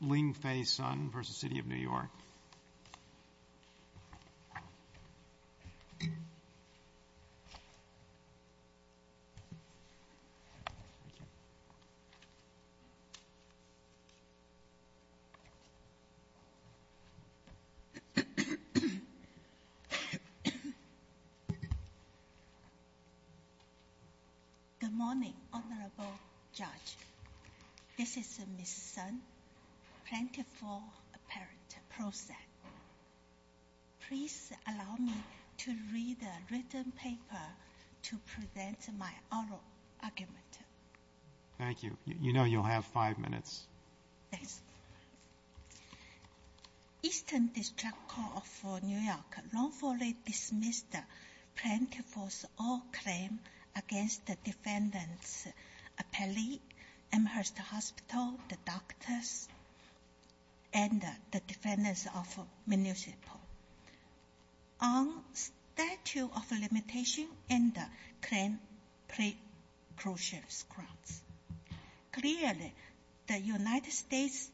Ling Fei Sun v. City of New York Good morning Honorable Judge This is Ms. Sun, Plaintiff for Appellate Process Please allow me to read the written paper to present my oral argument Thank you. You know you'll have five minutes Thanks Eastern District Court of New York wrongfully dismissed Plaintiff's oral claim against the defendants Appellate, Amherst Hospital, the doctors, and the defendants of Municipal On statute of limitation and claim pre-crucial grounds Clearly, the United States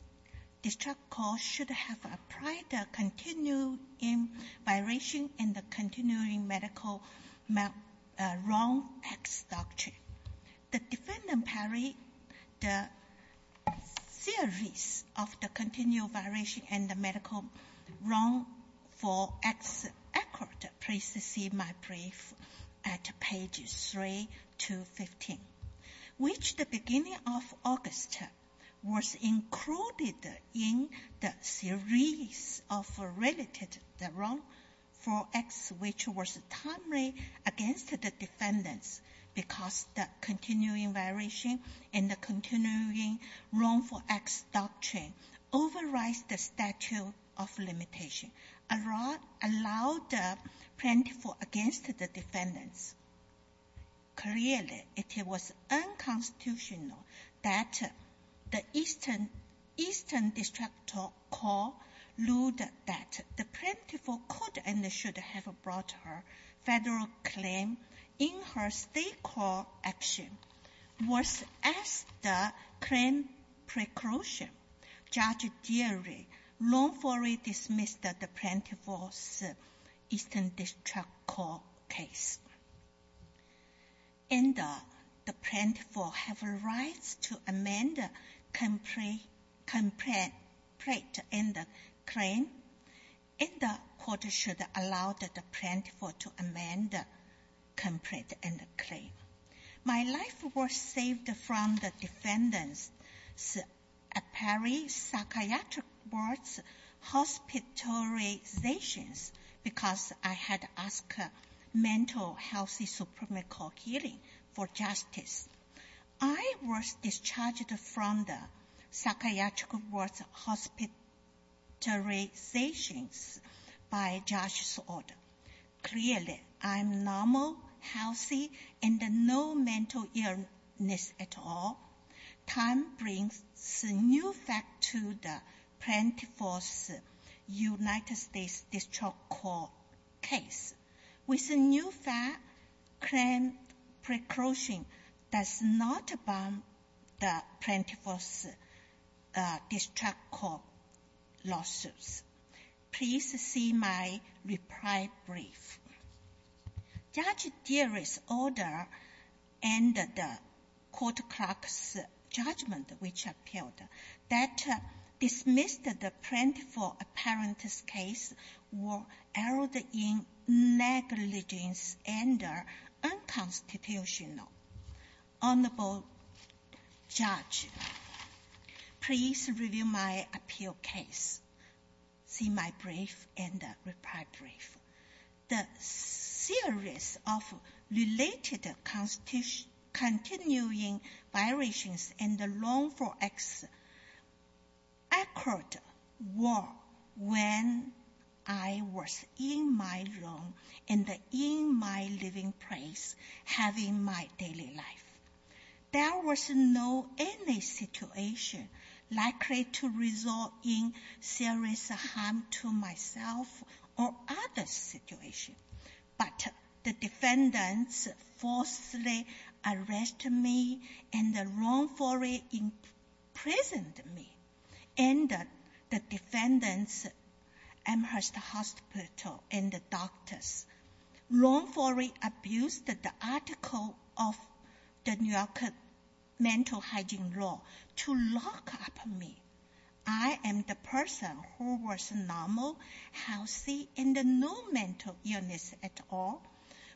District Court should have applied the continuing violation and the continuing medical wrong acts doctrine The defendant parried the series of the continuing violation and the medical wrongful acts accord Please see my brief at page 3 to 15 Which the beginning of August was included in the series of related wrongful acts which was timely against the defendants Because the continuing violation and the continuing wrongful acts doctrine overrides the statute of limitation which allowed the plaintiff against the defendants Clearly, it was unconstitutional that the Eastern District Court ruled that the plaintiff could and should have brought her federal claim in her state court action Worse, as the claim pre-crucial, Judge Deary wrongfully dismissed the plaintiff's Eastern District Court case And the plaintiff has a right to amend the complaint and claim And the court should allow the plaintiff to amend the complaint and claim My life was saved from the defendants' apparent psychiatric ward hospitalizations Because I had asked mental health and supra-medical healing for justice I was discharged from the psychiatric ward hospitalizations by Judge's order Clearly, I'm normal, healthy, and no mental illness at all Time brings a new fact to the plaintiff's United States District Court case With a new fact, claim pre-crucial does not abound the plaintiff's District Court lawsuits Please see my reply brief Judge Deary's order and the court clerk's judgment which appealed that dismissed the plaintiff's apparent case were errored in negligence and unconstitutional Honorable Judge, please review my appeal case See my brief and reply brief The series of related continuing violations in the loan for exit occurred when I was in my room and in my living place having my daily life There was no any situation likely to result in serious harm to myself or other situations But the defendants forcibly arrested me and wrongfully imprisoned me and the defendants' Amherst Hospital and the doctors wrongfully abused the article of the New York Mental Hygiene Law to lock up me I am the person who was normal, healthy, and no mental illness at all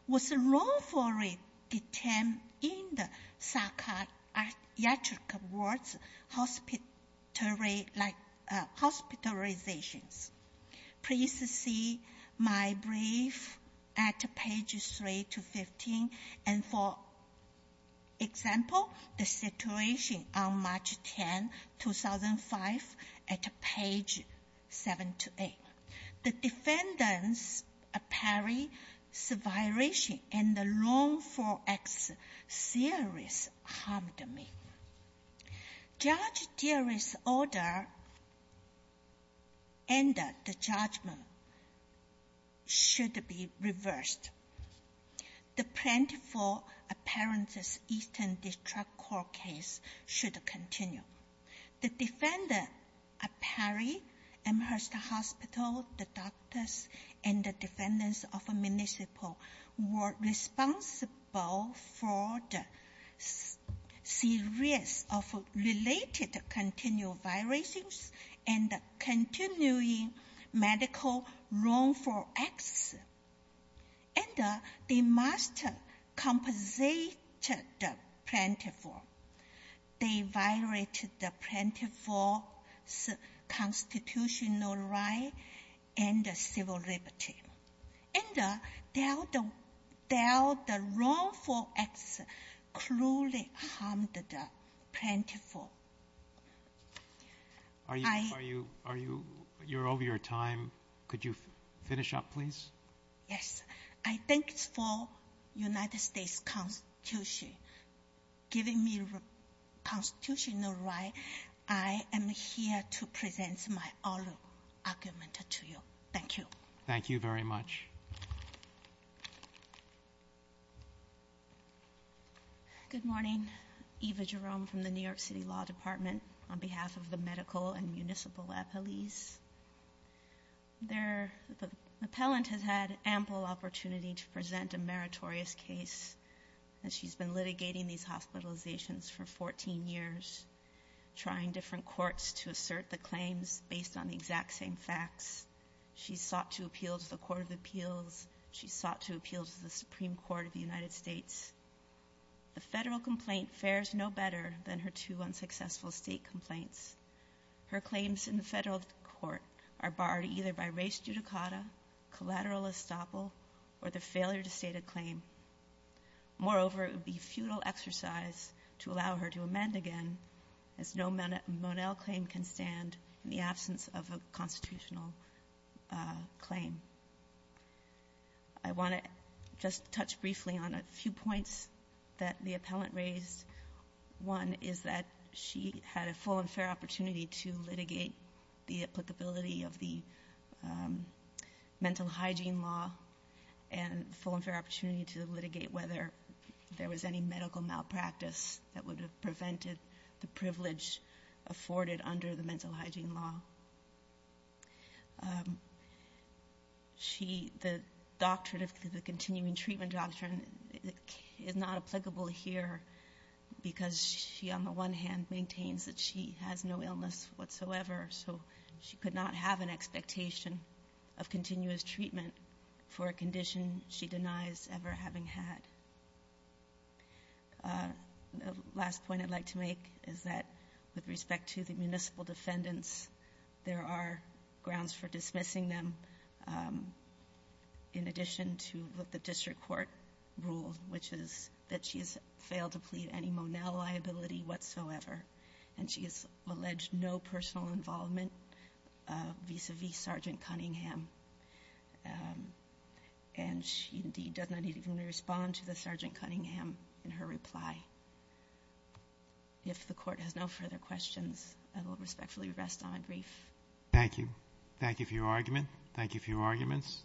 was wrongfully detained in the psychiatric ward hospitalizations Please see my brief at page 3 to 15 and for example the situation on March 10, 2005 at page 7 to 8 The defendants' apparent violations in the loan for exit seriously harmed me Judge Deary's order and the judgment should be reversed The plaintiff's apparent Eastern District Court case should continue The defendants' apparent Amherst Hospital, the doctors, and the defendants of the municipal were responsible for the series of related continual violations and the continuing medical loan for exit and they must compensate the plaintiff They violated the plaintiff's constitutional right and civil liberty and their wrongful exit cruelly harmed the plaintiff Yes, I thank the United States Constitution for giving me a constitutional right I am here to present my oral argument to you. Thank you Thank you very much Good morning. Eva Jerome from the New York City Law Department on behalf of the medical and municipal appellees The appellant has had ample opportunity to present a meritorious case and she's been litigating these hospitalizations for 14 years trying different courts to assert the claims based on the exact same facts She's sought to appeal to the Court of Appeals. She's sought to appeal to the Supreme Court of the United States The federal complaint fares no better than her two unsuccessful state complaints Her claims in the federal court are barred either by res judicata, collateral estoppel, or the failure to state a claim Moreover, it would be futile exercise to allow her to amend again as no Monell claim can stand in the absence of a constitutional claim I want to just touch briefly on a few points that the appellant raised One is that she had a full and fair opportunity to litigate the applicability of the mental hygiene law and a full and fair opportunity to litigate whether there was any medical malpractice that would have prevented the privilege afforded under the mental hygiene law The continuing treatment doctrine is not applicable here because she on the one hand maintains that she has no illness whatsoever so she could not have an expectation of continuous treatment for a condition she denies ever having had The last point I'd like to make is that with respect to the municipal defendants there are grounds for dismissing them in addition to what the district court ruled which is that she has failed to plead any Monell liability whatsoever and she has alleged no personal involvement vis-a-vis Sgt. Cunningham and she indeed does not even respond to the Sgt. Cunningham in her reply If the court has no further questions, I will respectfully rest on a brief Thank you. Thank you for your argument. Thank you for your arguments.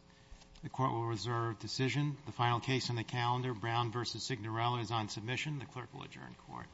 The court will reserve decision. The final case on the calendar, Brown v. Signorella, is on submission. The clerk will adjourn court.